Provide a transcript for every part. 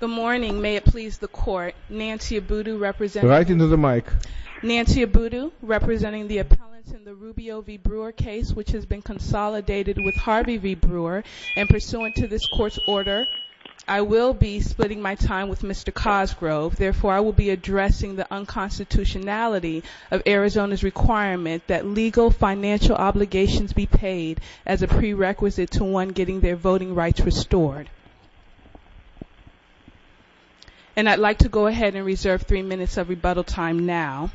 Good morning, may it please the court, Nancy Abudu representing the Rubio v. Brewer case, which has been consolidated with Harvey v. Brewer, and pursuant to this court's order, I will be splitting my time with Mr. Cosgrove, therefore I will be addressing the unconstitutionality of Arizona's requirement that legal financial obligations be paid as a prerequisite to one getting their voting rights restored. And I'd like to go ahead and reserve three minutes of rebuttal time now.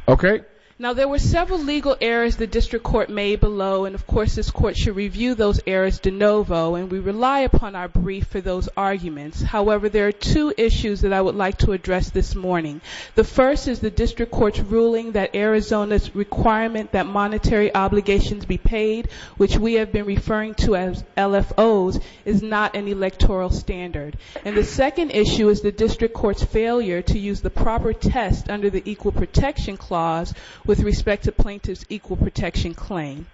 Now there were several legal errors the district court made below, and of course this court should review those errors de novo, and we rely upon our brief for those arguments. However, there are two issues that I would like to address this morning. The first is the district court's ruling that Arizona's requirement that monetary obligations be paid, which we have been referring to as LFOs, is not an electoral standard. And the second issue is the district court's failure to use the proper test under the Equal Protection Clause with respect to plaintiff's equal protection claim.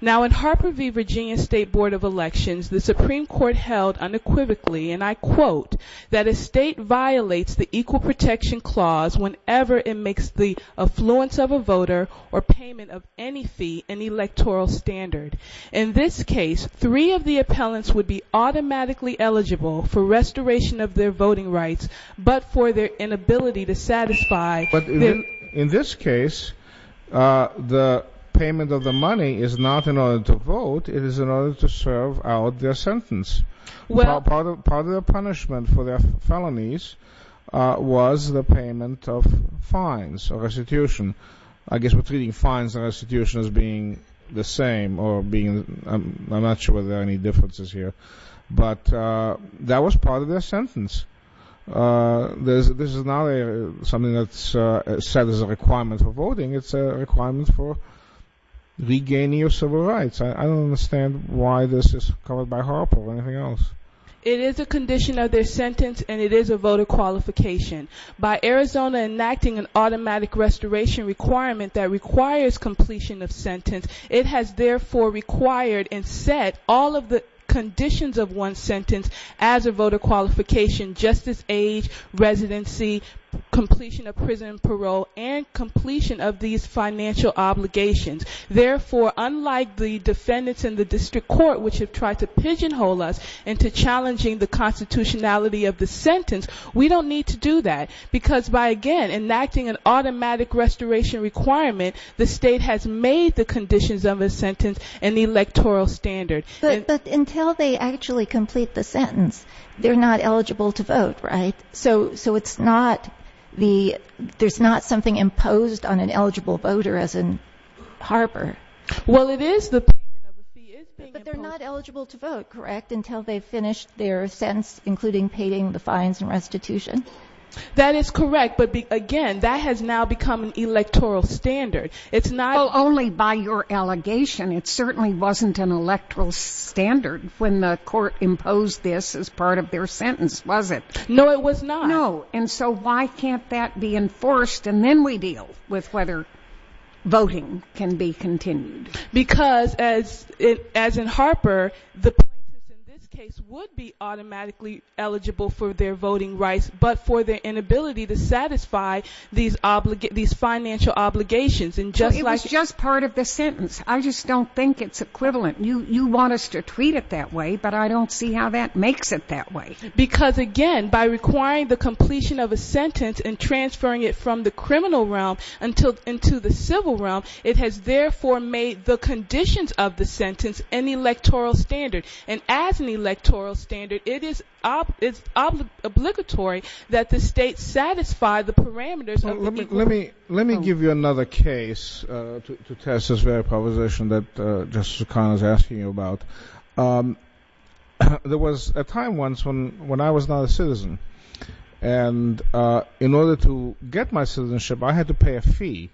Now in Harper v. Virginia State Board of Elections, the Supreme Court held unequivocally, and I quote, that a state violates the Equal Protection Clause whenever it makes the affluence of a voter or payment of any fee an electoral standard. In this case, three of the appellants would be automatically eligible for restoration of their voting rights, but for their inability to satisfy their... But in this case, the payment of the money is not in order to vote, it is in order to serve out their sentence. Part of the punishment for their felonies was the payment of fines or restitution. I guess we're treating fines and restitution as being the same, or being... I'm not sure there are any differences here. But that was part of their sentence. This is not something that's set as a requirement for voting, it's a requirement for regaining your civil rights. I don't understand why this is covered by Harper, or anything else. It is a condition of their sentence, and it is a voter qualification. By Arizona enacting an automatic restoration requirement that requires completion of sentence, it has therefore required and set all of the conditions of one's sentence as a voter qualification. Justice, age, residency, completion of prison and parole, and completion of these financial obligations. Therefore, unlike the defendants in the district court, which have tried to pigeonhole us into challenging the constitutionality of the sentence, we don't need to do that. Because by, again, enacting an automatic restoration requirement, the state has made the conditions of a sentence an electoral standard. But until they actually complete the sentence, they're not eligible to vote, right? So it's not the... there's not something imposed on an eligible voter, as in Harper? Well, it is the... But they're not eligible to vote, correct, until they've finished their sentence, including paying the fines and restitution? That is correct, but again, that has now become an electoral standard. It's not... Well, only by your allegation. It certainly wasn't an electoral standard when the court imposed this as part of their sentence, was it? No, it was not. No, and so why can't that be enforced, and then we deal with whether voting can be continued? Because, as in Harper, the plaintiffs in this case would be automatically eligible for their voting rights, but for their inability to satisfy these financial obligations. It was just part of the sentence. I just don't think it's equivalent. You want us to treat it that way, but I don't see how that makes it that way. Because, again, by requiring the completion of a sentence and transferring it from the criminal realm into the civil realm, it has therefore made the conditions of the sentence an electoral standard. And as an electoral standard, it is obligatory that the state satisfy the parameters of the... Let me give you another case to test this very proposition that Justice O'Connor is asking you about. There was a time once when I was not a citizen, and in order to get my citizenship, I had to pay a fee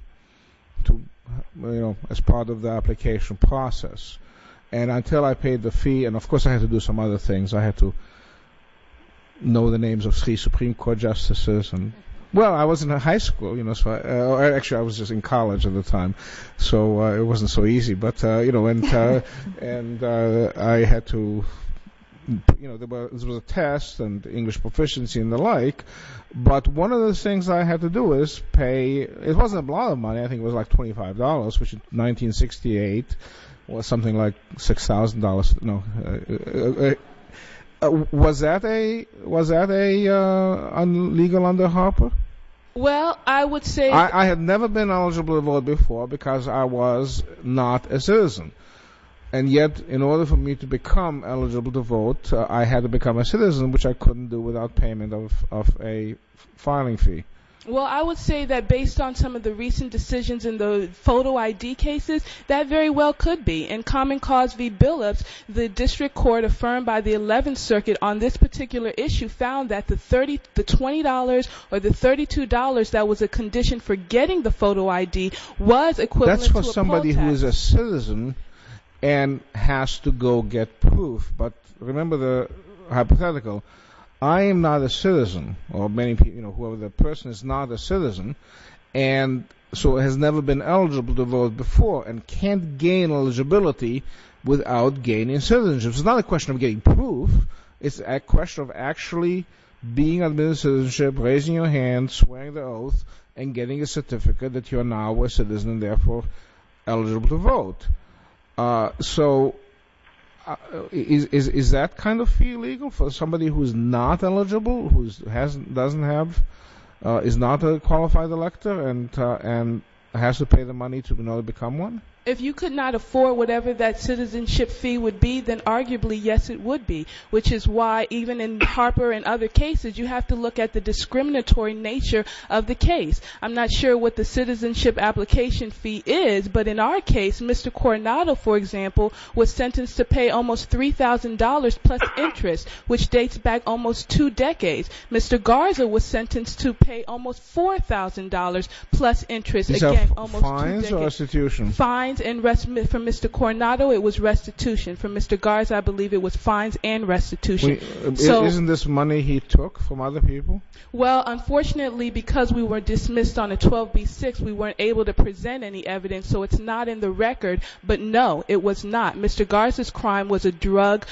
as part of the application process. And until I paid the fee, and of course I had to do some other things. I had to know the names of three Supreme Court justices. Well, I wasn't in high school. Actually, I was just in college at the time, so it wasn't so easy. There was a test and English proficiency and the like, but one of the things I had to do was pay... It was something like $6,000. Was that illegal under Harper? Well, I would say... I had never been eligible to vote before because I was not a citizen. And yet, in order for me to become eligible to vote, I had to become a citizen, which I couldn't do without payment of a filing fee. Well, I would say that based on some of the recent decisions in the photo ID cases, that very well could be. In Common Cause v. Billups, the district court affirmed by the 11th Circuit on this particular issue found that the $20 or the $32 that was a condition for getting the photo ID was equivalent to a poll tax. That's for somebody who is a citizen and has to go get proof. But remember the hypothetical. I am not a citizen, or whoever the person is not a citizen, and so has never been eligible to vote before and can't gain eligibility without gaining citizenship. It's not a question of getting proof. It's a question of actually being admitted to citizenship, raising your hand, swearing the oath, and getting a certificate that you are now a citizen and therefore eligible to vote. So, is that kind of fee legal for somebody who is not eligible, who is not a qualified elector, and has to pay the money in order to become one? If you could not afford whatever that citizenship fee would be, then arguably, yes, it would be. Which is why, even in Harper and other cases, you have to look at the discriminatory nature of the case. I'm not sure what the citizenship application fee is, but in our case, Mr. Coronado, for example, was sentenced to pay almost $3,000 plus interest, which dates back almost two decades. Mr. Garza was sentenced to pay almost $4,000 plus interest. Is that fines or restitution? Fines and restitution. For Mr. Coronado, it was restitution. For Mr. Garza, I believe it was fines and restitution. Isn't this money he took from other people? Well, unfortunately, because we were dismissed on a 12B6, we weren't able to present any evidence, so it's not in the record. But no, it was not. Mr. Garza's crime was a drug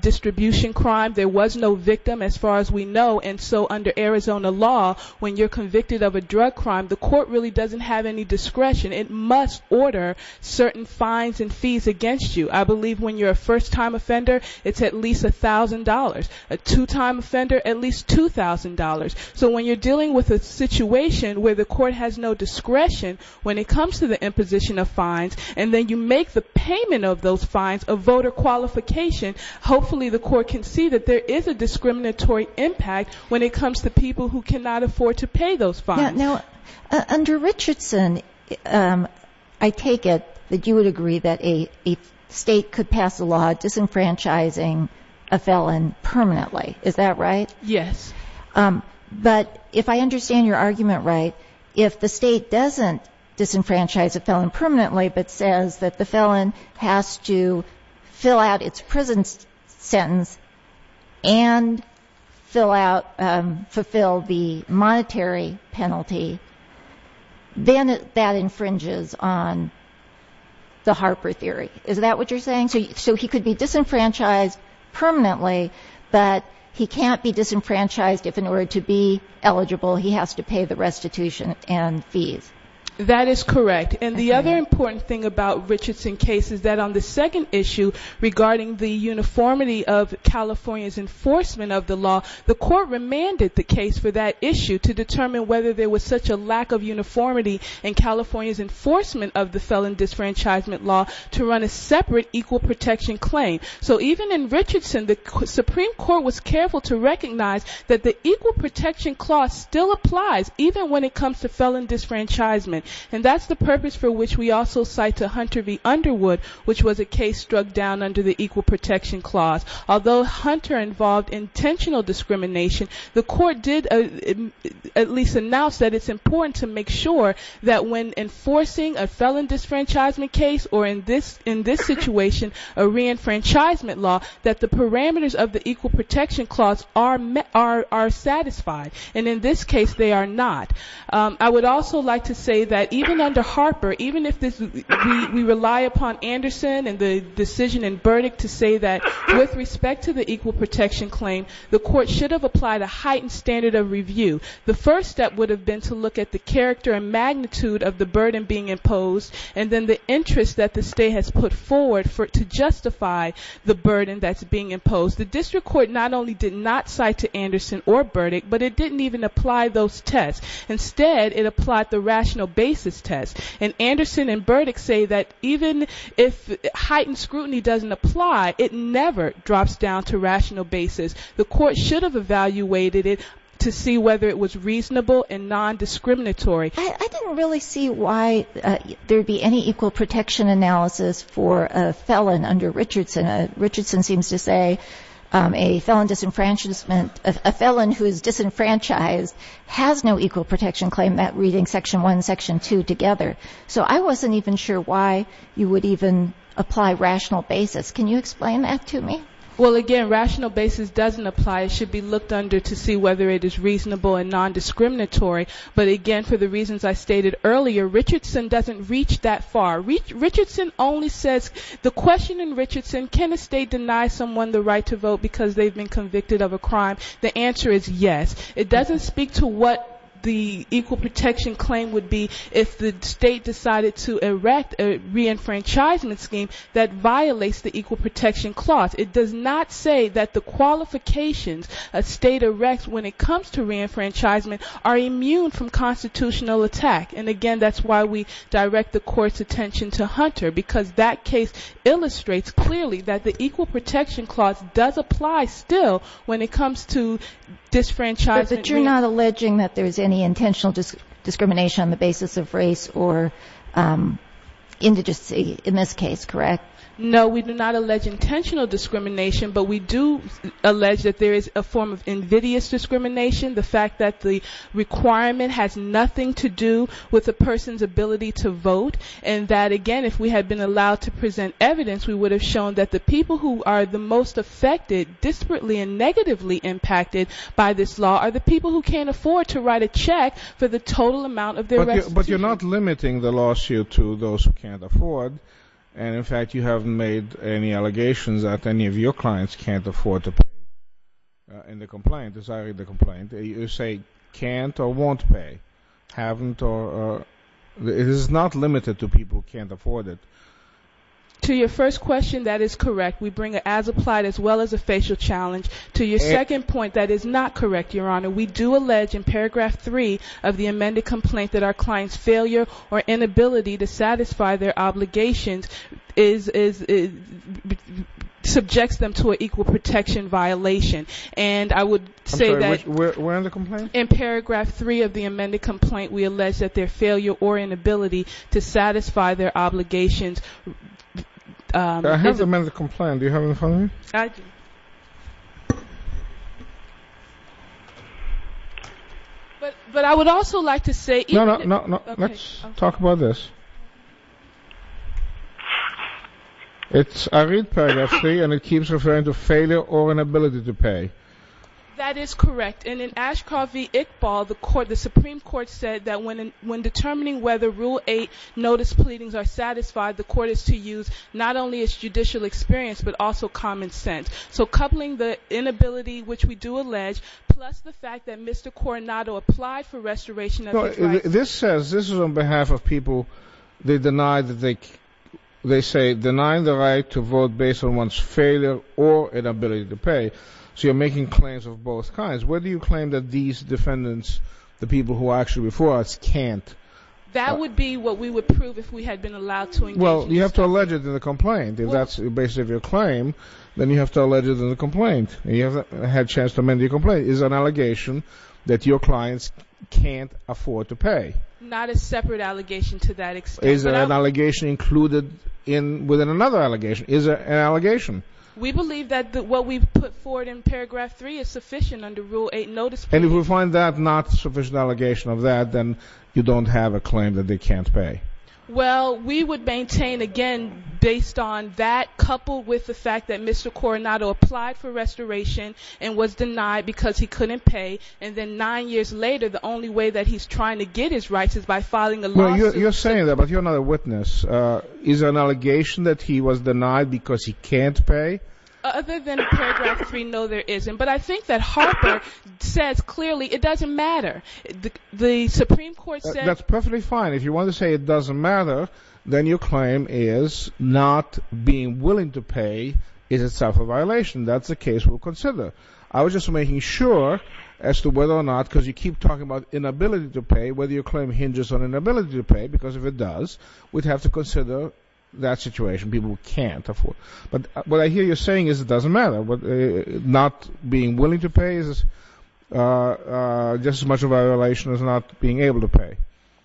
distribution crime. There was no victim, as far as we know. And so, under Arizona law, when you're convicted of a drug crime, the court really doesn't have any discretion. It must order certain fines and fees against you. I believe when you're a first-time offender, it's at least $1,000. A two-time offender, at least $2,000. So when you're dealing with a situation where the court has no discretion when it comes to the imposition of fines, and then you make the payment of those fines a voter qualification, hopefully the court can see that there is a discriminatory impact when it comes to people who cannot afford to pay those fines. Now, under Richardson, I take it that you would agree that a state could pass a law disenfranchising a felon permanently. Is that right? Yes. But if I understand your argument right, if the state doesn't disenfranchise a felon permanently but says that the felon has to fill out its prison sentence and fulfill the monetary penalty, then that infringes on the Harper theory. Is that what you're saying? So he could be disenfranchised permanently, but he can't be disenfranchised if, in order to be eligible, he has to pay the restitution and fees. That is correct. And the other important thing about the Richardson case is that on the second issue, regarding the uniformity of California's enforcement of the law, the court remanded the case for that issue to determine whether there was such a lack of uniformity in California's enforcement of the felon disenfranchisement law to run a separate equal protection claim. So even in Richardson, the Supreme Court was careful to recognize that the equal protection clause still applies, even when it comes to felon disenfranchisement. And that's the purpose for which we also cite to Hunter v. Underwood, which was a case struck down under the equal protection clause. Although Hunter involved intentional discrimination, the court did at least announce that it's important to make sure that when enforcing a felon disenfranchisement case or, in this situation, a reenfranchisement law, that the parameters of the equal protection clause are satisfied. And in this case, they are not. I would also like to say that even under Harper, even if we rely upon Anderson and the decision in Burdick to say that with respect to the equal protection claim, the court should have applied a heightened standard of review. The first step would have been to look at the character and magnitude of the burden being imposed and then the interest that the state has put forward to justify the burden that's being imposed. The district court not only did not cite to Anderson or Burdick, but it didn't even apply those tests. Instead, it applied the rational basis test. And Anderson and Burdick say that even if heightened scrutiny doesn't apply, it never drops down to rational basis. The court should have evaluated it to see whether it was reasonable and non-discriminatory. I didn't really see why there would be any equal protection analysis for a felon under Richardson. Richardson seems to say a felon disenfranchisement, a felon who is disenfranchised, has no equal protection claim, that reading section one, section two together. So I wasn't even sure why you would even apply rational basis. Can you explain that to me? Well, again, rational basis doesn't apply. It should be looked under to see whether it is reasonable and non-discriminatory. But, again, for the reasons I stated earlier, Richardson doesn't reach that far. The question in Richardson, can a state deny someone the right to vote because they've been convicted of a crime? The answer is yes. It doesn't speak to what the equal protection claim would be if the state decided to erect a reenfranchisement scheme that violates the equal protection clause. It does not say that the qualifications a state erects when it comes to reenfranchisement are immune from constitutional attack. And, again, that's why we direct the court's attention to Hunter, because that case illustrates clearly that the equal protection clause does apply still when it comes to disenfranchisement. But you're not alleging that there's any intentional discrimination on the basis of race or indigency in this case, correct? No, we do not allege intentional discrimination, but we do allege that there is a form of invidious discrimination, the fact that the requirement has nothing to do with a person's ability to vote, and that, again, if we had been allowed to present evidence, we would have shown that the people who are the most affected, disparately and negatively impacted by this law are the people who can't afford to write a check for the total amount of their restitution. But you're not limiting the lawsuit to those who can't afford, and, in fact, you haven't made any allegations that any of your clients can't afford to pay in the complaint, as I read the complaint. You say can't or won't pay, haven't or it is not limited to people who can't afford it. To your first question, that is correct. We bring an as-applied as well as a facial challenge. To your second point, that is not correct, Your Honor. We do allege in Paragraph 3 of the amended complaint that our client's failure or inability to satisfy their obligations subjects them to an equal protection violation. And I would say that in Paragraph 3 of the amended complaint, we allege that their failure or inability to satisfy their obligations. I have the amended complaint. Do you have it in front of you? But I would also like to say... No, no. Let's talk about this. I read Paragraph 3 and it keeps referring to failure or inability to pay. That is correct. And in Ashcroft v. Iqbal, the Supreme Court said that when determining whether Rule 8 notice pleadings are satisfied, the court is to use not only its judicial experience, but also common sense. So coupling the inability, which we do allege, plus the fact that Mr. Coronado applied for restoration of his rights... This says, this is on behalf of people. They say, denying the right to vote based on one's failure or inability to pay. So you're making claims of both kinds. Where do you claim that these defendants, the people who are actually before us, can't? That would be what we would prove if we had been allowed to engage in this case. Well, you have to allege it in the complaint. If that's the basis of your claim, then you have to allege it in the complaint. You haven't had a chance to amend your complaint. It is an allegation that your clients can't afford to pay. Not a separate allegation to that extent. Is there an allegation included within another allegation? Is there an allegation? We believe that what we put forward in Paragraph 3 is sufficient under Rule 8 notice pleadings. And if we find that not sufficient allegation of that, then you don't have a claim that they can't pay. Well, we would maintain, again, based on that, coupled with the fact that Mr. Coronado applied for restoration and was denied because he couldn't pay. And then nine years later, the only way that he's trying to get his rights is by filing a lawsuit. You're saying that, but you're not a witness. Is there an allegation that he was denied because he can't pay? Other than Paragraph 3, no, there isn't. But I think that Harper says clearly it doesn't matter. The Supreme Court said— That's perfectly fine. If you want to say it doesn't matter, then your claim is not being willing to pay is itself a violation. That's a case we'll consider. I was just making sure as to whether or not, because you keep talking about inability to pay, whether your claim hinges on inability to pay, because if it does, we'd have to consider that situation, people who can't afford. But what I hear you saying is it doesn't matter. Not being willing to pay is just as much a violation as not being able to pay.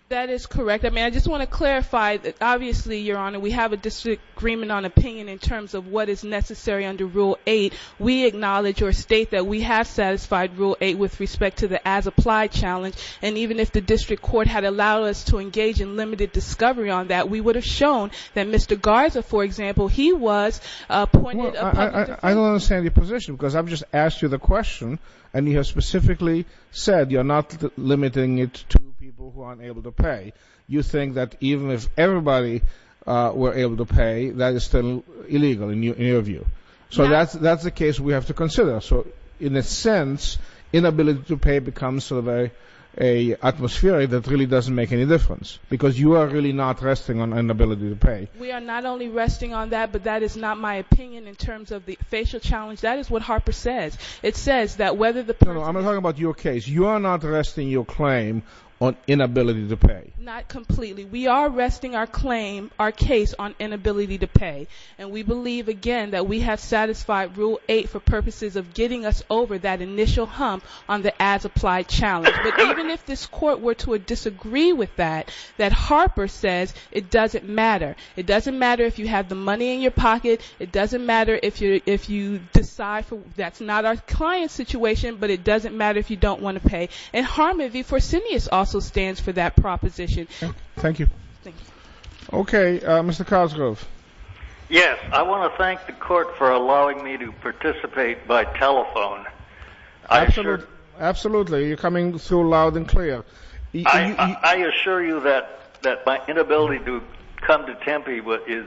That is correct. I mean, I just want to clarify that, obviously, Your Honor, we have a disagreement on opinion in terms of what is necessary under Rule 8. We acknowledge or state that we have satisfied Rule 8 with respect to the as-applied challenge, and even if the district court had allowed us to engage in limited discovery on that, we would have shown that Mr. Garza, for example, he was appointed— I don't understand your position because I've just asked you the question, and you have specifically said you're not limiting it to people who aren't able to pay. You think that even if everybody were able to pay, that is still illegal in your view. So that's a case we have to consider. So in a sense, inability to pay becomes sort of an atmosphere that really doesn't make any difference because you are really not resting on inability to pay. We are not only resting on that, but that is not my opinion in terms of the facial challenge. That is what Harper says. It says that whether the person— No, no, I'm not talking about your case. You are not resting your claim on inability to pay. Not completely. We are resting our claim, our case, on inability to pay, and we believe, again, that we have satisfied Rule 8 for purposes of getting us over that initial hump on the as-applied challenge. But even if this Court were to disagree with that, that Harper says it doesn't matter. It doesn't matter if you have the money in your pocket. It doesn't matter if you decide—that's not our client's situation, but it doesn't matter if you don't want to pay. And Harmony V. Forsenius also stands for that proposition. Thank you. Okay, Mr. Cosgrove. Yes, I want to thank the Court for allowing me to participate by telephone. Absolutely. You're coming through loud and clear. I assure you that my inability to come to Tempe is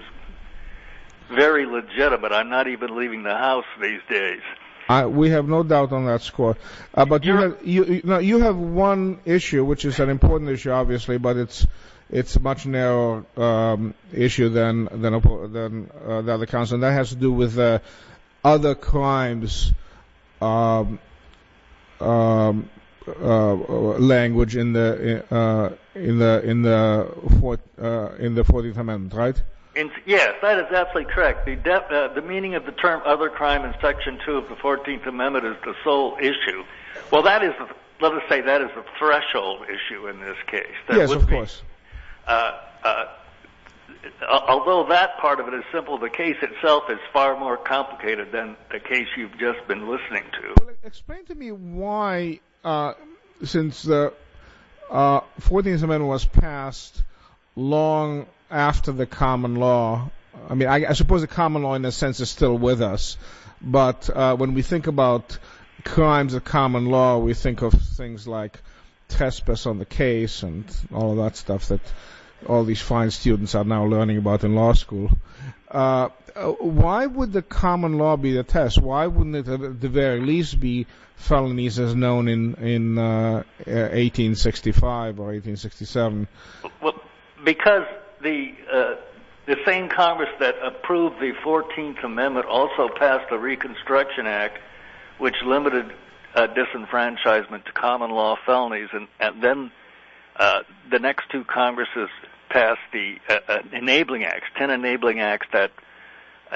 very legitimate. I'm not even leaving the house these days. We have no doubt on that score. But you have one issue, which is an important issue, obviously, but it's a much narrower issue than the other counts, and that has to do with other crimes language in the Fourteenth Amendment, right? Yes, that is absolutely correct. The meaning of the term other crime in Section 2 of the Fourteenth Amendment is the sole issue. Well, let us say that is a threshold issue in this case. Yes, of course. Although that part of it is simple, the case itself is far more complicated than the case you've just been listening to. Explain to me why, since the Fourteenth Amendment was passed long after the common law, I mean, I suppose the common law in a sense is still with us, but when we think about crimes of common law, we think of things like trespass on the case and all of that stuff that all these fine students are now learning about in law school. Why would the common law be the test? Why wouldn't it at the very least be felonies as known in 1865 or 1867? Because the same Congress that approved the Fourteenth Amendment also passed the Reconstruction Act, which limited disenfranchisement to common law felonies. Then the next two Congresses passed the Ten Enabling Acts that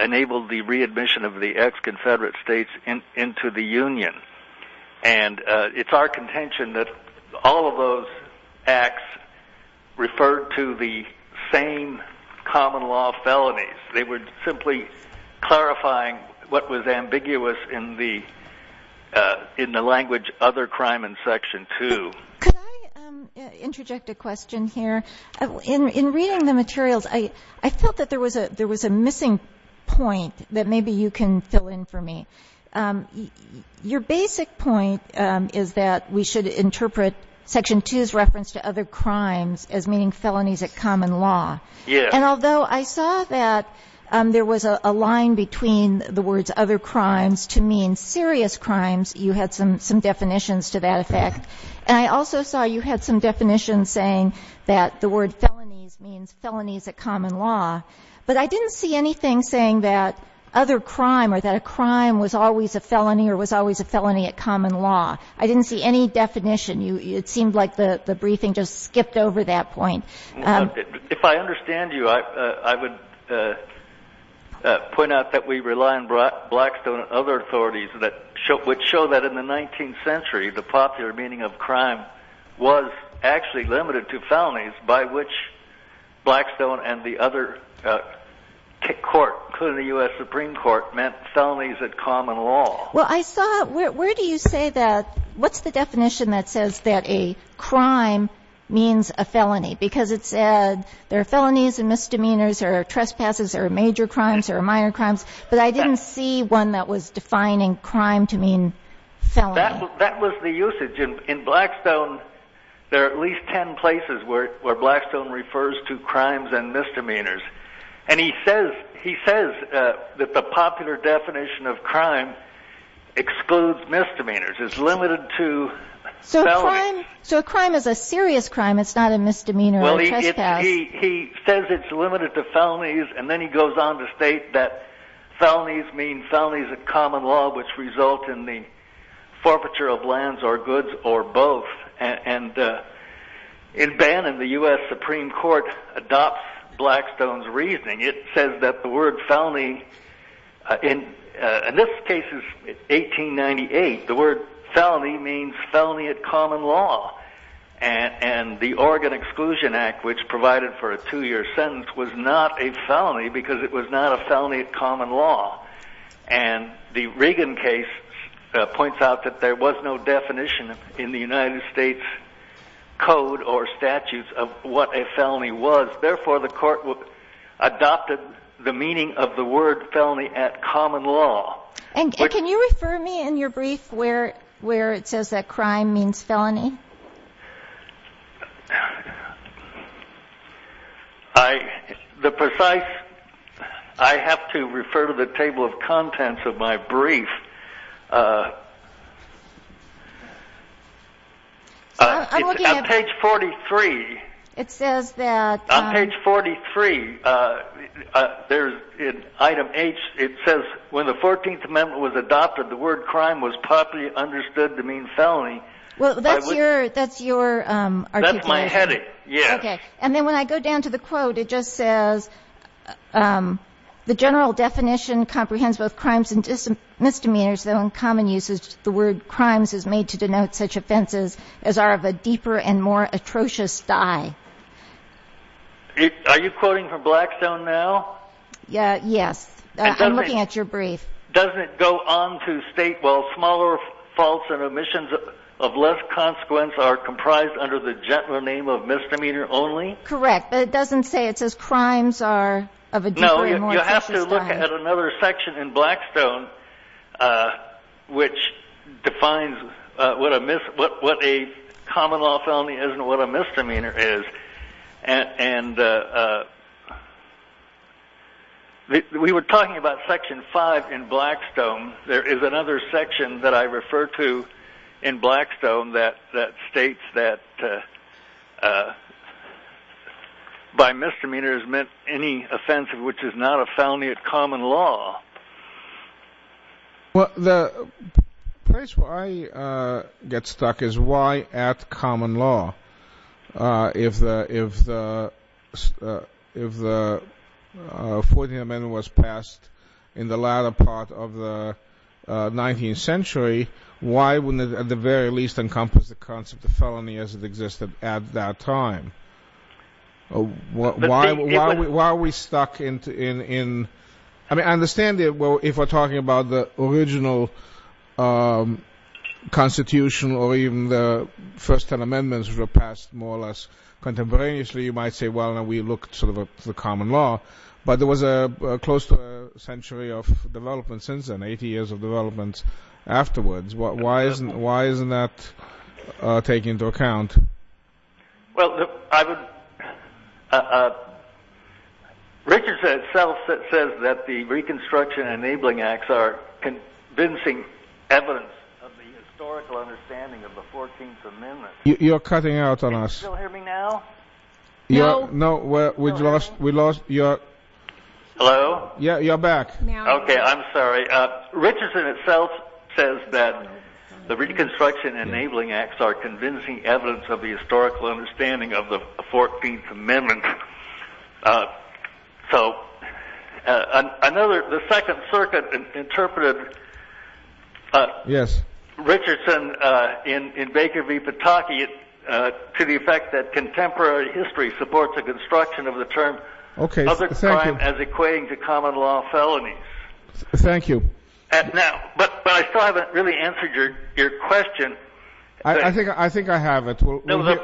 enabled the readmission of the ex-Confederate states into the Union. It's our contention that all of those acts referred to the same common law felonies. They were simply clarifying what was ambiguous in the language other crime in Section 2. Could I interject a question here? In reading the materials, I felt that there was a missing point that maybe you can fill in for me. Your basic point is that we should interpret Section 2's reference to other crimes as meaning felonies at common law. And although I saw that there was a line between the words other crimes to mean serious crimes, you had some definitions to that effect. And I also saw you had some definitions saying that the word felonies means felonies at common law. But I didn't see anything saying that other crime or that a crime was always a felony or was always a felony at common law. I didn't see any definition. It seemed like the briefing just skipped over that point. If I understand you, I would point out that we rely on Blackstone and other authorities which show that in the 19th century the popular meaning of crime was actually limited to felonies by which Blackstone and the other court, including the U.S. Supreme Court, meant felonies at common law. Well, I saw – where do you say that – what's the definition that says that a crime means a felony? Because it said there are felonies and misdemeanors or trespasses or major crimes or minor crimes, but I didn't see one that was defining crime to mean felony. That was the usage. In Blackstone, there are at least ten places where Blackstone refers to crimes and misdemeanors. And he says that the popular definition of crime excludes misdemeanors. It's limited to felonies. So a crime is a serious crime. It's not a misdemeanor or trespass. He says it's limited to felonies, and then he goes on to state that felonies mean felonies at common law which result in the forfeiture of lands or goods or both. In Bannon, the U.S. Supreme Court adopts Blackstone's reasoning. It says that the word felony – in this case, 1898, the word felony means felony at common law. And the Oregon Exclusion Act, which provided for a two-year sentence, was not a felony because it was not a felony at common law. And the Reagan case points out that there was no definition in the United States code or statutes of what a felony was. Therefore, the court adopted the meaning of the word felony at common law. And can you refer me in your brief where it says that crime means felony? The precise – I have to refer to the table of contents of my brief. It's on page 43. It says that – On page 43, in item H, it says when the 14th Amendment was adopted, the word crime was properly understood to mean felony. Well, that's your – that's your articulation. That's my heading, yes. Okay. And then when I go down to the quote, it just says, the general definition comprehends both crimes and misdemeanors, though in common use the word crimes is made to denote such offenses as are of a deeper and more atrocious dye. Are you quoting from Blackstone now? Yes. I'm looking at your brief. Doesn't it go on to state, well, smaller faults and omissions of less consequence are comprised under the gentler name of misdemeanor only? Correct. But it doesn't say it says crimes are of a deeper and more atrocious dye. No, you have to look at another section in Blackstone, which defines what a common law felony is and what a misdemeanor is. And we were talking about Section 5 in Blackstone. There is another section that I refer to in Blackstone that states that by misdemeanor is meant any offense which is not a felony of common law. Well, the place where I get stuck is why, at common law, if the 14th Amendment was passed in the latter part of the 19th century, why wouldn't it at the very least encompass the concept of felony as it existed at that time? Why are we stuck in—I mean, I understand if we're talking about the original Constitution or even the first ten amendments were passed more or less contemporaneously, you might say, well, we looked to the common law. But there was close to a century of development since then, 80 years of development afterwards. Why isn't that taken into account? Well, I would—Richardson itself says that the Reconstruction Enabling Acts are convincing evidence of the historical understanding of the 14th Amendment. You're cutting out on us. Can you still hear me now? No. No, we lost your— Hello? Yeah, you're back. Okay, I'm sorry. Okay, Richardson itself says that the Reconstruction Enabling Acts are convincing evidence of the historical understanding of the 14th Amendment. So, the Second Circuit interpreted Richardson in Baker v. Pataki to the effect that contemporary history supports a construction of the term other crime as equating to common law felonies. Thank you. But I still haven't really answered your question. I think I have. The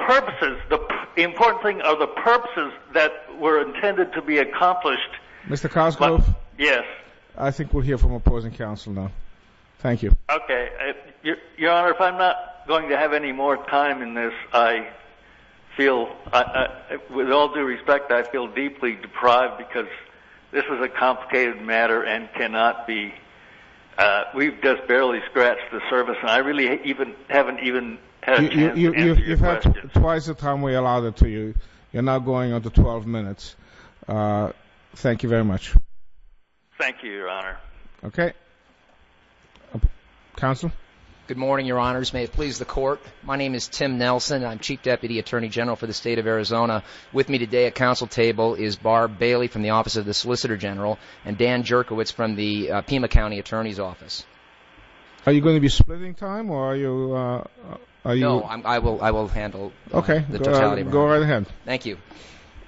purposes, the important thing are the purposes that were intended to be accomplished. Mr. Cosgrove? Yes. I think we'll hear from opposing counsel now. Thank you. Okay. Your Honor, if I'm not going to have any more time in this, I feel, with all due respect, I feel deeply deprived because this is a complicated matter and cannot be—we've just barely scratched the surface, and I really haven't even had a chance to answer your question. You've had twice the time we allowed it to you. You're now going on to 12 minutes. Thank you very much. Thank you, Your Honor. Okay. Counsel? Good morning, Your Honors. May it please the Court, my name is Tim Nelson. I'm Chief Deputy Attorney General for the State of Arizona. With me today at counsel table is Barb Bailey from the Office of the Solicitor General and Dan Jerkowitz from the Pima County Attorney's Office. Are you going to be splitting time or are you— No, I will handle the totality. Okay. Go right ahead. Thank you.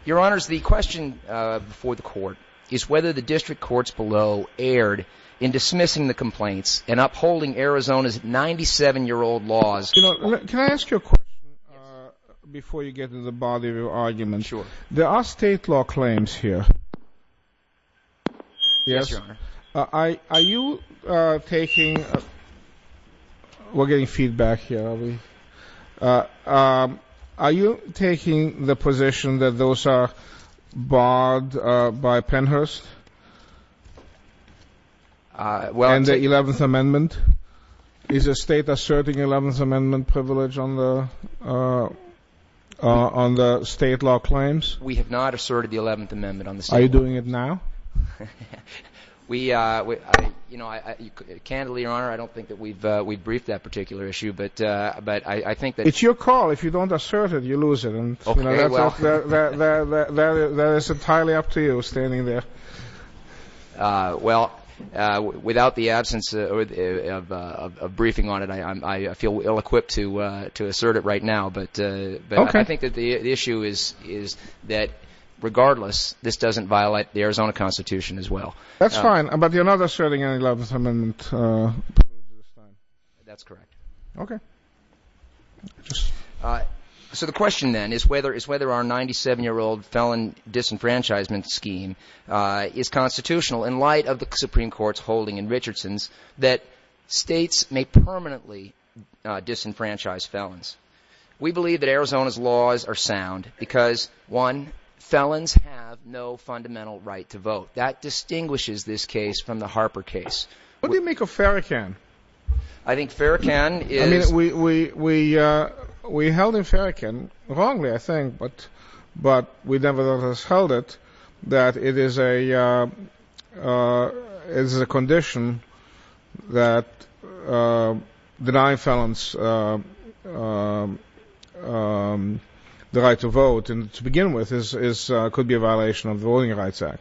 Your Honors, the question before the Court is whether the district courts below erred in dismissing the complaints and upholding Arizona's 97-year-old laws. Can I ask you a question before you get into the body of your argument? Sure. There are state law claims here. Yes, Your Honor. Are you taking—we're getting feedback here. Are you taking the position that those are barred by Pennhurst and the Eleventh Amendment? Is the state asserting the Eleventh Amendment privilege on the state law claims? We have not asserted the Eleventh Amendment on the state law. Are you doing it now? We—candidly, Your Honor, I don't think that we've briefed that particular issue, but I think that— It's your call. If you don't assert it, you lose it. Okay. Very well. That is entirely up to you standing there. Well, without the absence of briefing on it, I feel ill-equipped to assert it right now. Okay. But I think that the issue is that regardless, this doesn't violate the Arizona Constitution as well. That's fine, but you're not asserting any Eleventh Amendment privilege. That's correct. Okay. So the question then is whether our 97-year-old felon disenfranchisement scheme is constitutional in light of the Supreme Court's holding in Richardson's that states may permanently disenfranchise felons. We believe that Arizona's laws are sound because, one, felons have no fundamental right to vote. That distinguishes this case from the Harper case. What do you make of Farrakhan? I think Farrakhan is— I mean, we held in Farrakhan wrongly, I think, but we nevertheless held it that it is a condition that denying felons the right to vote, and to begin with, could be a violation of the Voting Rights Act.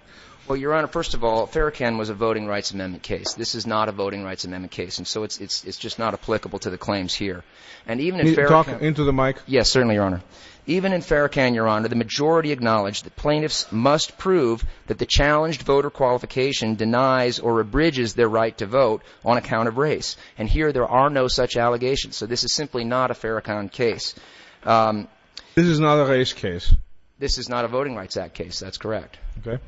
Well, Your Honor, first of all, Farrakhan was a voting rights amendment case. This is not a voting rights amendment case. And so it's just not applicable to the claims here. Talk into the mic. Yes, certainly, Your Honor. Even in Farrakhan, Your Honor, the majority acknowledged that plaintiffs must prove that the challenged voter qualification denies or abridges their right to vote on account of race. And here there are no such allegations. So this is simply not a Farrakhan case. This is not a race case. This is not a Voting Rights Act case. That's correct. Okay.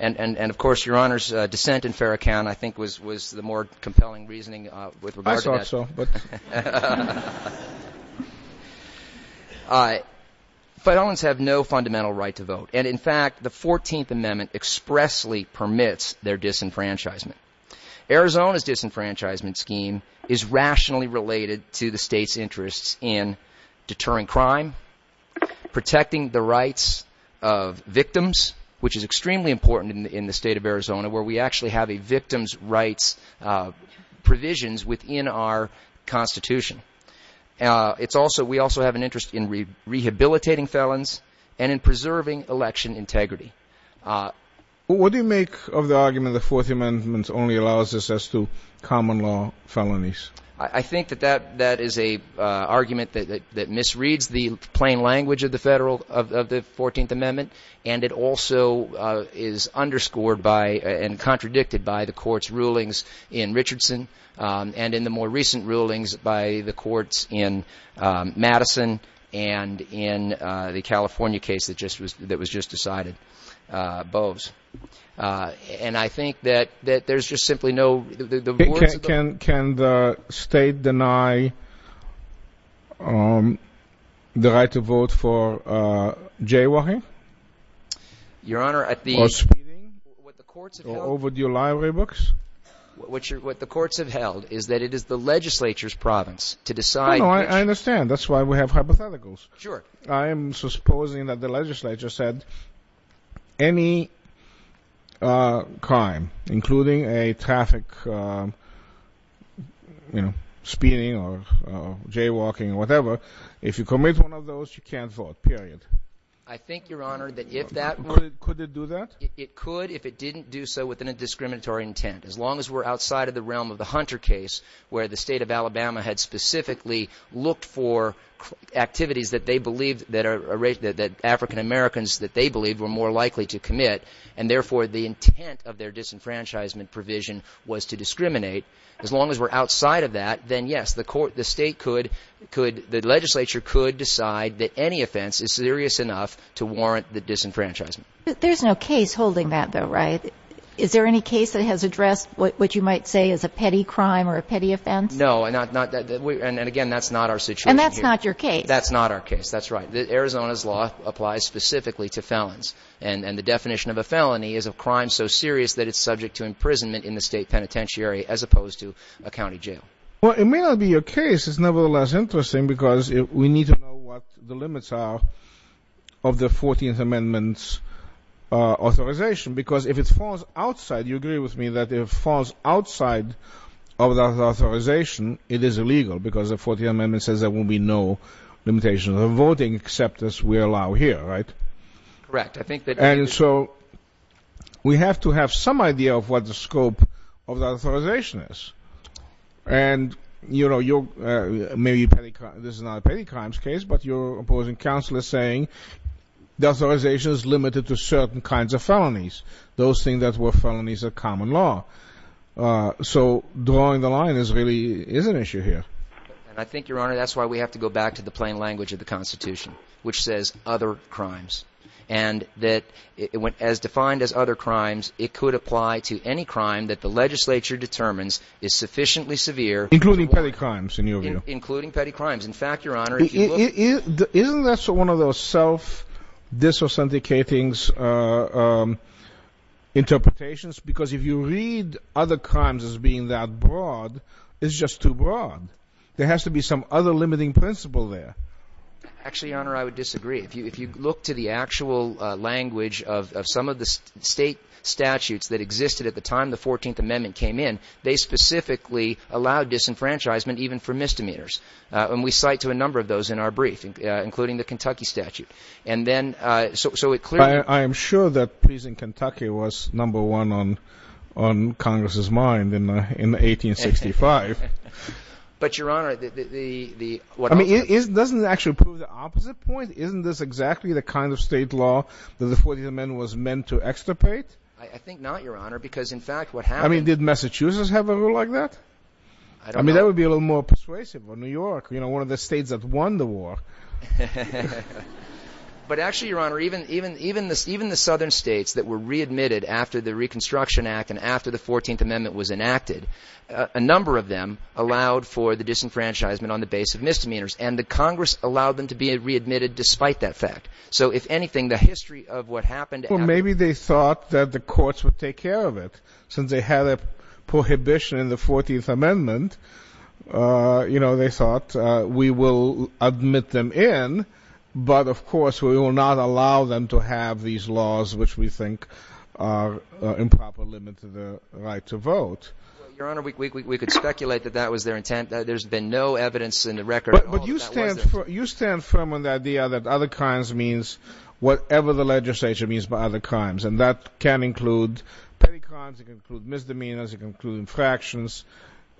And, of course, Your Honor's dissent in Farrakhan, I think, was the more compelling reasoning with regard to that. I thought so. All right. Felons have no fundamental right to vote. And, in fact, the 14th Amendment expressly permits their disenfranchisement. Arizona's disenfranchisement scheme is rationally related to the State's interests in deterring crime, protecting the rights of victims, which is extremely important in the State of Arizona, where we actually have a victims' rights provisions within our Constitution. We also have an interest in rehabilitating felons and in preserving election integrity. What do you make of the argument that the 14th Amendment only allows this as to common law felonies? I think that that is an argument that misreads. It misreads the plain language of the 14th Amendment, and it also is underscored by and contradicted by the Court's rulings in Richardson and in the more recent rulings by the courts in Madison and in the California case that was just decided, Boves. And I think that there's just simply no – Can the State deny the right to vote for jaywalking? Your Honor, at the – Or overdue library books? What the courts have held is that it is the legislature's province to decide which – I understand. That's why we have hypotheticals. Sure. I am supposing that the legislature said any crime, including a traffic, you know, speeding or jaywalking or whatever, if you commit one of those, you can't vote, period. I think, Your Honor, that if that were – Could it do that? It could if it didn't do so within a discriminatory intent. As long as we're outside of the realm of the Hunter case, where the State of Alabama had specifically looked for activities that they believed – that African Americans that they believed were more likely to commit, and therefore the intent of their disenfranchisement provision was to discriminate, as long as we're outside of that, then, yes, the State could – the legislature could decide that any offense is serious enough to warrant the disenfranchisement. There's no case holding that, though, right? Is there any case that has addressed what you might say is a petty crime or a petty offense? No. And, again, that's not our situation here. And that's not your case. That's not our case. That's right. Arizona's law applies specifically to felons, and the definition of a felony is a crime so serious that it's subject to imprisonment in the State penitentiary as opposed to a county jail. Well, it may not be your case. It's nevertheless interesting because we need to know what the limits are of the 14th Amendment's authorization because if it falls outside – you agree with me that if it falls outside of the authorization, it is illegal because the 14th Amendment says there will be no limitation of voting except as we allow here, right? Correct. I think that – And so we have to have some idea of what the scope of the authorization is. And, you know, you're – maybe this is not a petty crimes case, but your opposing counsel is saying the authorization is limited to certain kinds of felonies, those things that were felonies of common law. So drawing the line really is an issue here. And I think, Your Honor, that's why we have to go back to the plain language of the Constitution, which says other crimes, and that as defined as other crimes, it could apply to any crime that the legislature determines is sufficiently severe. Including petty crimes, in your view? Including petty crimes. In fact, Your Honor, if you look – Isn't that one of those self-disauthenticating interpretations? Because if you read other crimes as being that broad, it's just too broad. There has to be some other limiting principle there. Actually, Your Honor, I would disagree. If you look to the actual language of some of the state statutes that existed at the time the 14th Amendment came in, they specifically allowed disenfranchisement even for misdemeanors. And we cite to a number of those in our brief, including the Kentucky statute. And then – so it clearly – I am sure that pleasing Kentucky was number one on Congress's mind in 1865. But, Your Honor, the – I mean, doesn't it actually prove the opposite point? Isn't this exactly the kind of state law that the 14th Amendment was meant to extirpate? I think not, Your Honor, because, in fact, what happened – I don't know. Maybe a little more persuasive. Well, New York, you know, one of the states that won the war. But, actually, Your Honor, even the southern states that were readmitted after the Reconstruction Act and after the 14th Amendment was enacted, a number of them allowed for the disenfranchisement on the basis of misdemeanors. And the Congress allowed them to be readmitted despite that fact. So, if anything, the history of what happened – Well, maybe they thought that the courts would take care of it. Since they had a prohibition in the 14th Amendment, you know, they thought we will admit them in. But, of course, we will not allow them to have these laws, which we think are an improper limit to the right to vote. Your Honor, we could speculate that that was their intent. There's been no evidence in the record at all that that was their intent. But you stand firm on the idea that other crimes means whatever the legislature means by other crimes. And that can include petty crimes. It can include misdemeanors. It can include infractions.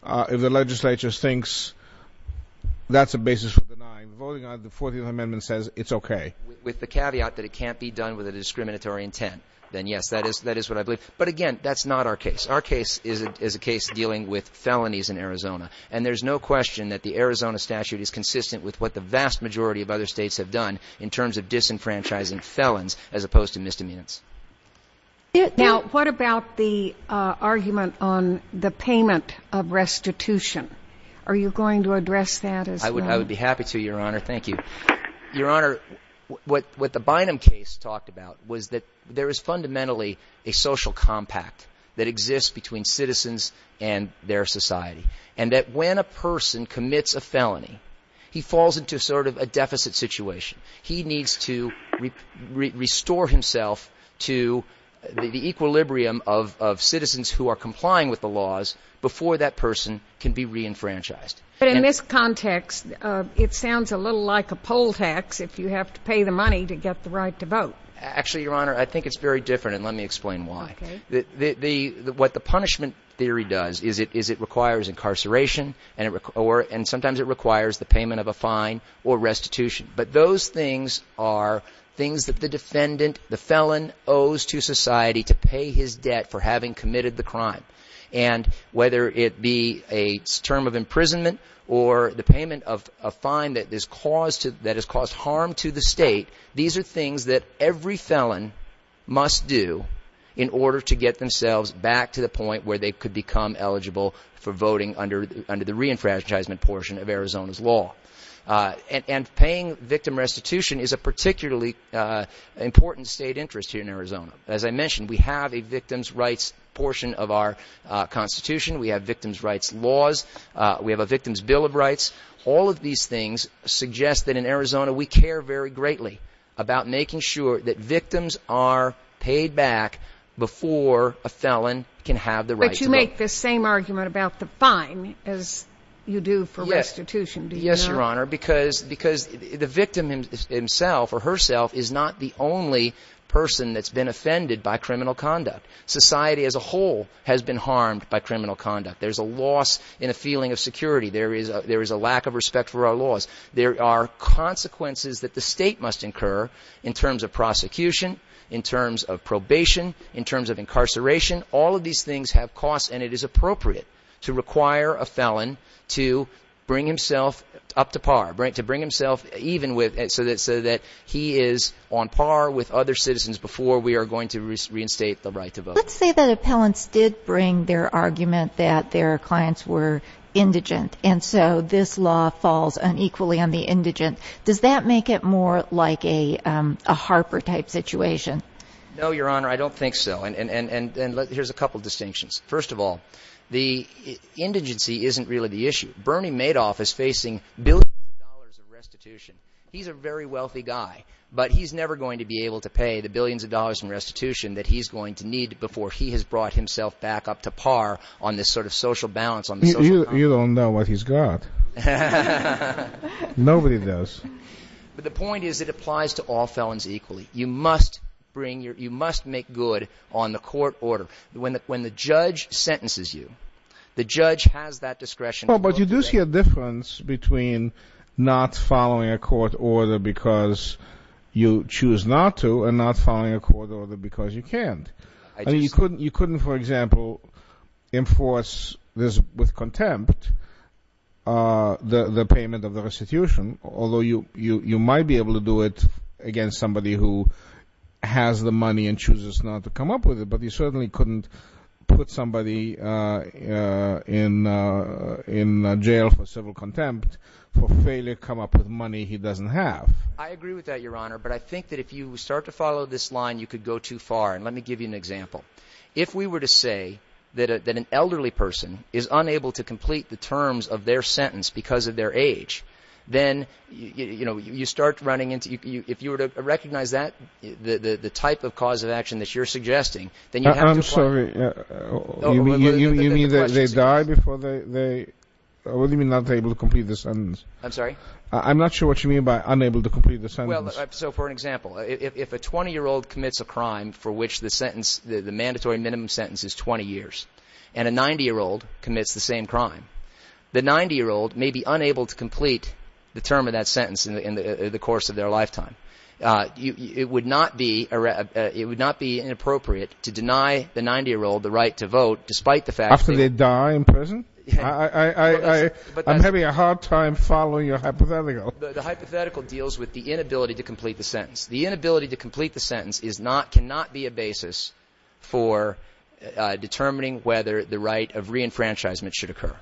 If the legislature thinks that's a basis for denying, voting on the 14th Amendment says it's okay. With the caveat that it can't be done with a discriminatory intent, then, yes, that is what I believe. But, again, that's not our case. Our case is a case dealing with felonies in Arizona. And there's no question that the Arizona statute is consistent with what the vast majority of other states have done in terms of disenfranchising felons as opposed to misdemeanors. Now, what about the argument on the payment of restitution? Are you going to address that as well? I would be happy to, Your Honor. Thank you. Your Honor, what the Bynum case talked about was that there is fundamentally a social compact that exists between citizens and their society. And that when a person commits a felony, he falls into sort of a deficit situation. He needs to restore himself to the equilibrium of citizens who are complying with the laws before that person can be re-enfranchised. But in this context, it sounds a little like a poll tax if you have to pay the money to get the right to vote. Actually, Your Honor, I think it's very different, and let me explain why. Okay. What the punishment theory does is it requires incarceration, and sometimes it requires the payment of a fine or restitution. But those things are things that the defendant, the felon owes to society to pay his debt for having committed the crime. And whether it be a term of imprisonment or the payment of a fine that has caused harm to the state, these are things that every felon must do in order to get themselves back to the point where they could become eligible for voting under the re-enfranchisement portion of Arizona's law. And paying victim restitution is a particularly important state interest here in Arizona. As I mentioned, we have a victim's rights portion of our Constitution. We have victim's rights laws. We have a victim's bill of rights. All of these things suggest that in Arizona we care very greatly about making sure that victims are paid back before a felon can have the right to vote. But you make the same argument about the fine as you do for restitution, do you not? Yes, Your Honor, because the victim himself or herself is not the only person that's been offended by criminal conduct. Society as a whole has been harmed by criminal conduct. There's a loss in a feeling of security. There is a lack of respect for our laws. There are consequences that the state must incur in terms of prosecution, in terms of probation, in terms of incarceration. All of these things have costs, and it is appropriate to require a felon to bring himself up to par, to bring himself even so that he is on par with other citizens before we are going to reinstate the right to vote. Let's say that appellants did bring their argument that their clients were indigent, and so this law falls unequally on the indigent. Does that make it more like a Harper-type situation? No, Your Honor, I don't think so. And here's a couple of distinctions. First of all, the indigency isn't really the issue. Bernie Madoff is facing billions of dollars in restitution. He's a very wealthy guy, but he's never going to be able to pay the billions of dollars in restitution that he's going to need before he has brought himself back up to par on this sort of social balance. You don't know what he's got. Nobody does. But the point is it applies to all felons equally. You must make good on the court order. When the judge sentences you, the judge has that discretion. But you do see a difference between not following a court order because you choose not to and not following a court order because you can't. You couldn't, for example, enforce this with contempt, the payment of the restitution, although you might be able to do it against somebody who has the money and chooses not to come up with it, but you certainly couldn't put somebody in jail for civil contempt for failure to come up with money he doesn't have. I agree with that, Your Honor, but I think that if you start to follow this line, you could go too far. And let me give you an example. If we were to say that an elderly person is unable to complete the terms of their sentence because of their age, then you start running into – if you were to recognize that, the type of cause of action that you're suggesting, then you have to – I'm sorry. You mean that they die before they – what do you mean not able to complete the sentence? I'm sorry? I'm not sure what you mean by unable to complete the sentence. Well, so for an example, if a 20-year-old commits a crime for which the mandatory minimum sentence is 20 years and a 90-year-old commits the same crime, the 90-year-old may be unable to complete the term of that sentence in the course of their lifetime. It would not be inappropriate to deny the 90-year-old the right to vote despite the fact that – After they die in prison? I'm having a hard time following your hypothetical. The hypothetical deals with the inability to complete the sentence. The inability to complete the sentence is not – cannot be a basis for determining whether the right of reenfranchisement should occur.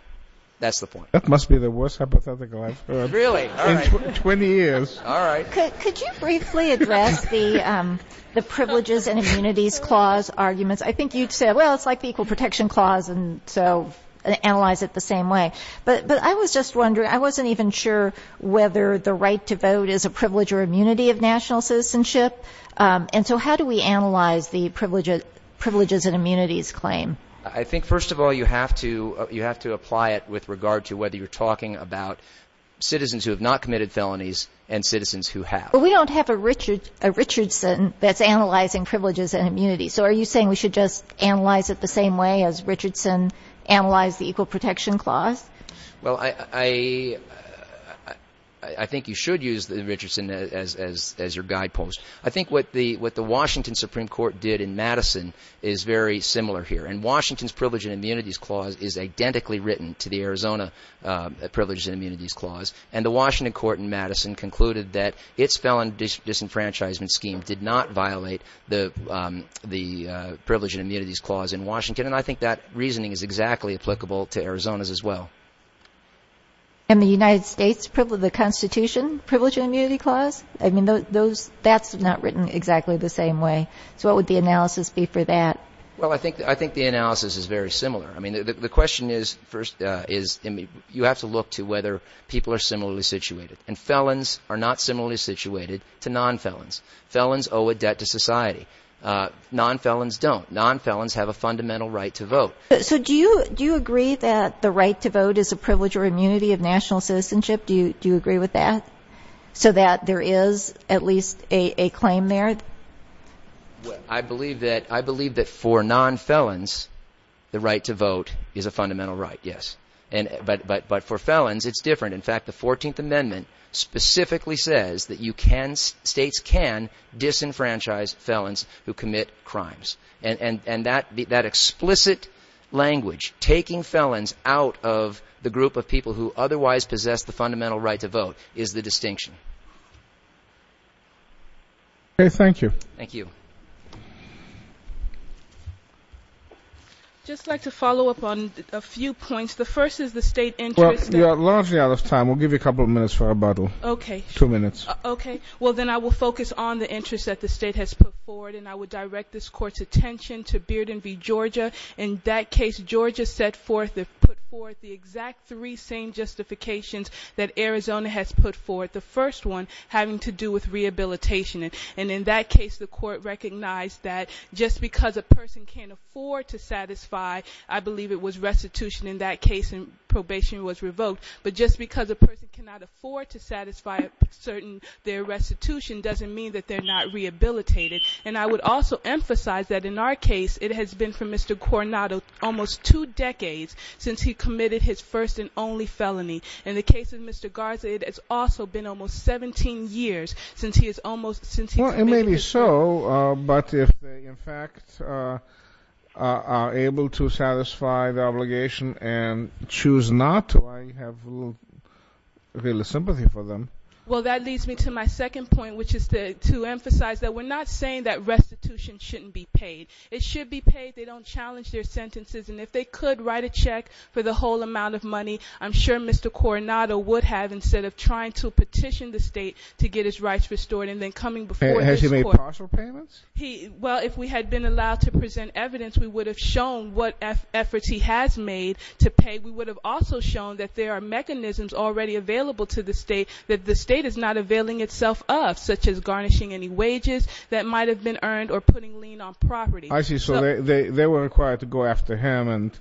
That's the point. That must be the worst hypothetical I've heard. Really? All right. In 20 years. All right. Could you briefly address the privileges and immunities clause arguments? I think you said, well, it's like the equal protection clause, and so analyze it the same way. But I was just wondering, I wasn't even sure whether the right to vote is a privilege or immunity of national citizenship. And so how do we analyze the privileges and immunities claim? I think, first of all, you have to apply it with regard to whether you're talking about citizens who have not committed felonies and citizens who have. But we don't have a Richardson that's analyzing privileges and immunities. So are you saying we should just analyze it the same way as Richardson analyzed the equal protection clause? Well, I think you should use the Richardson as your guidepost. I think what the Washington Supreme Court did in Madison is very similar here. And Washington's privileges and immunities clause is identically written to the Arizona privileges and immunities clause. And the Washington court in Madison concluded that its felon disenfranchisement scheme did not violate the privileges and immunities clause in Washington. And I think that reasoning is exactly applicable to Arizona's as well. And the United States, the Constitution, privileges and immunity clause? I mean, that's not written exactly the same way. So what would the analysis be for that? Well, I think the analysis is very similar. I mean, the question is, first, you have to look to whether people are similarly situated. And felons are not similarly situated to nonfelons. Felons owe a debt to society. Nonfelons don't. Nonfelons have a fundamental right to vote. So do you agree that the right to vote is a privilege or immunity of national citizenship? Do you agree with that, so that there is at least a claim there? Well, I believe that for nonfelons, the right to vote is a fundamental right, yes. But for felons, it's different. In fact, the 14th Amendment specifically says that states can disenfranchise felons who commit crimes. And that explicit language, taking felons out of the group of people who otherwise possess the fundamental right to vote, is the distinction. Okay, thank you. Thank you. I'd just like to follow up on a few points. The first is the state interest. Well, you are largely out of time. We'll give you a couple of minutes for rebuttal. Okay. Two minutes. Okay. Well, then I will focus on the interest that the state has put forward, and I will direct this Court's attention to Bearden v. Georgia. In that case, Georgia set forth and put forth the exact three same justifications that Arizona has put forth. The first one having to do with rehabilitation. And in that case, the Court recognized that just because a person can't afford to satisfy, I believe it was restitution in that case and probation was revoked, but just because a person cannot afford to satisfy a certain restitution doesn't mean that they're not rehabilitated. And I would also emphasize that in our case, it has been for Mr. Coronado almost two decades since he committed his first and only felony. In the case of Mr. Garza, it has also been almost 17 years since he committed his first. Well, it may be so, but if they, in fact, are able to satisfy the obligation and choose not to, I have little sympathy for them. Well, that leads me to my second point, which is to emphasize that we're not saying that restitution shouldn't be paid. It should be paid. They don't challenge their sentences, and if they could write a check for the whole amount of money, I'm sure Mr. Coronado would have, instead of trying to petition the State to get his rights restored and then coming before this Court. Has he made partial payments? Well, if we had been allowed to present evidence, we would have shown what efforts he has made to pay. We would have also shown that there are mechanisms already available to the State that the State is not availing itself of, such as garnishing any wages that might have been earned or putting lien on property. I see. So they were required to go after him and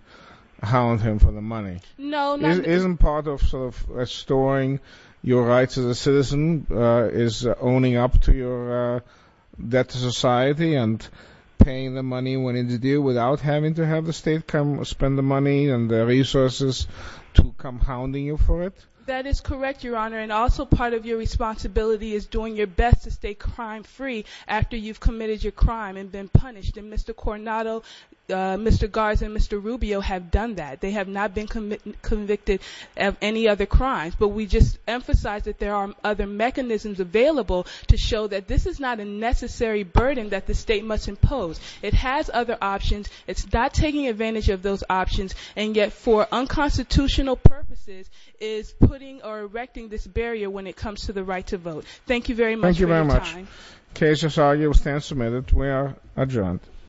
hound him for the money. No. Isn't part of restoring your rights as a citizen is owning up to your debt to society and paying the money when it's due without having to have the State come spend the money and the resources to come hounding you for it? That is correct, Your Honor, and also part of your responsibility is doing your best to stay crime-free after you've committed your crime and been punished, and Mr. Coronado, Mr. Garza, and Mr. Rubio have done that. They have not been convicted of any other crimes, but we just emphasize that there are other mechanisms available to show that this is not a necessary burden that the State must impose. It has other options. It's not taking advantage of those options, and yet, for unconstitutional purposes, is putting or erecting this barrier when it comes to the right to vote. Thank you very much for your time. Thank you very much. The case is argued and submitted. We are adjourned.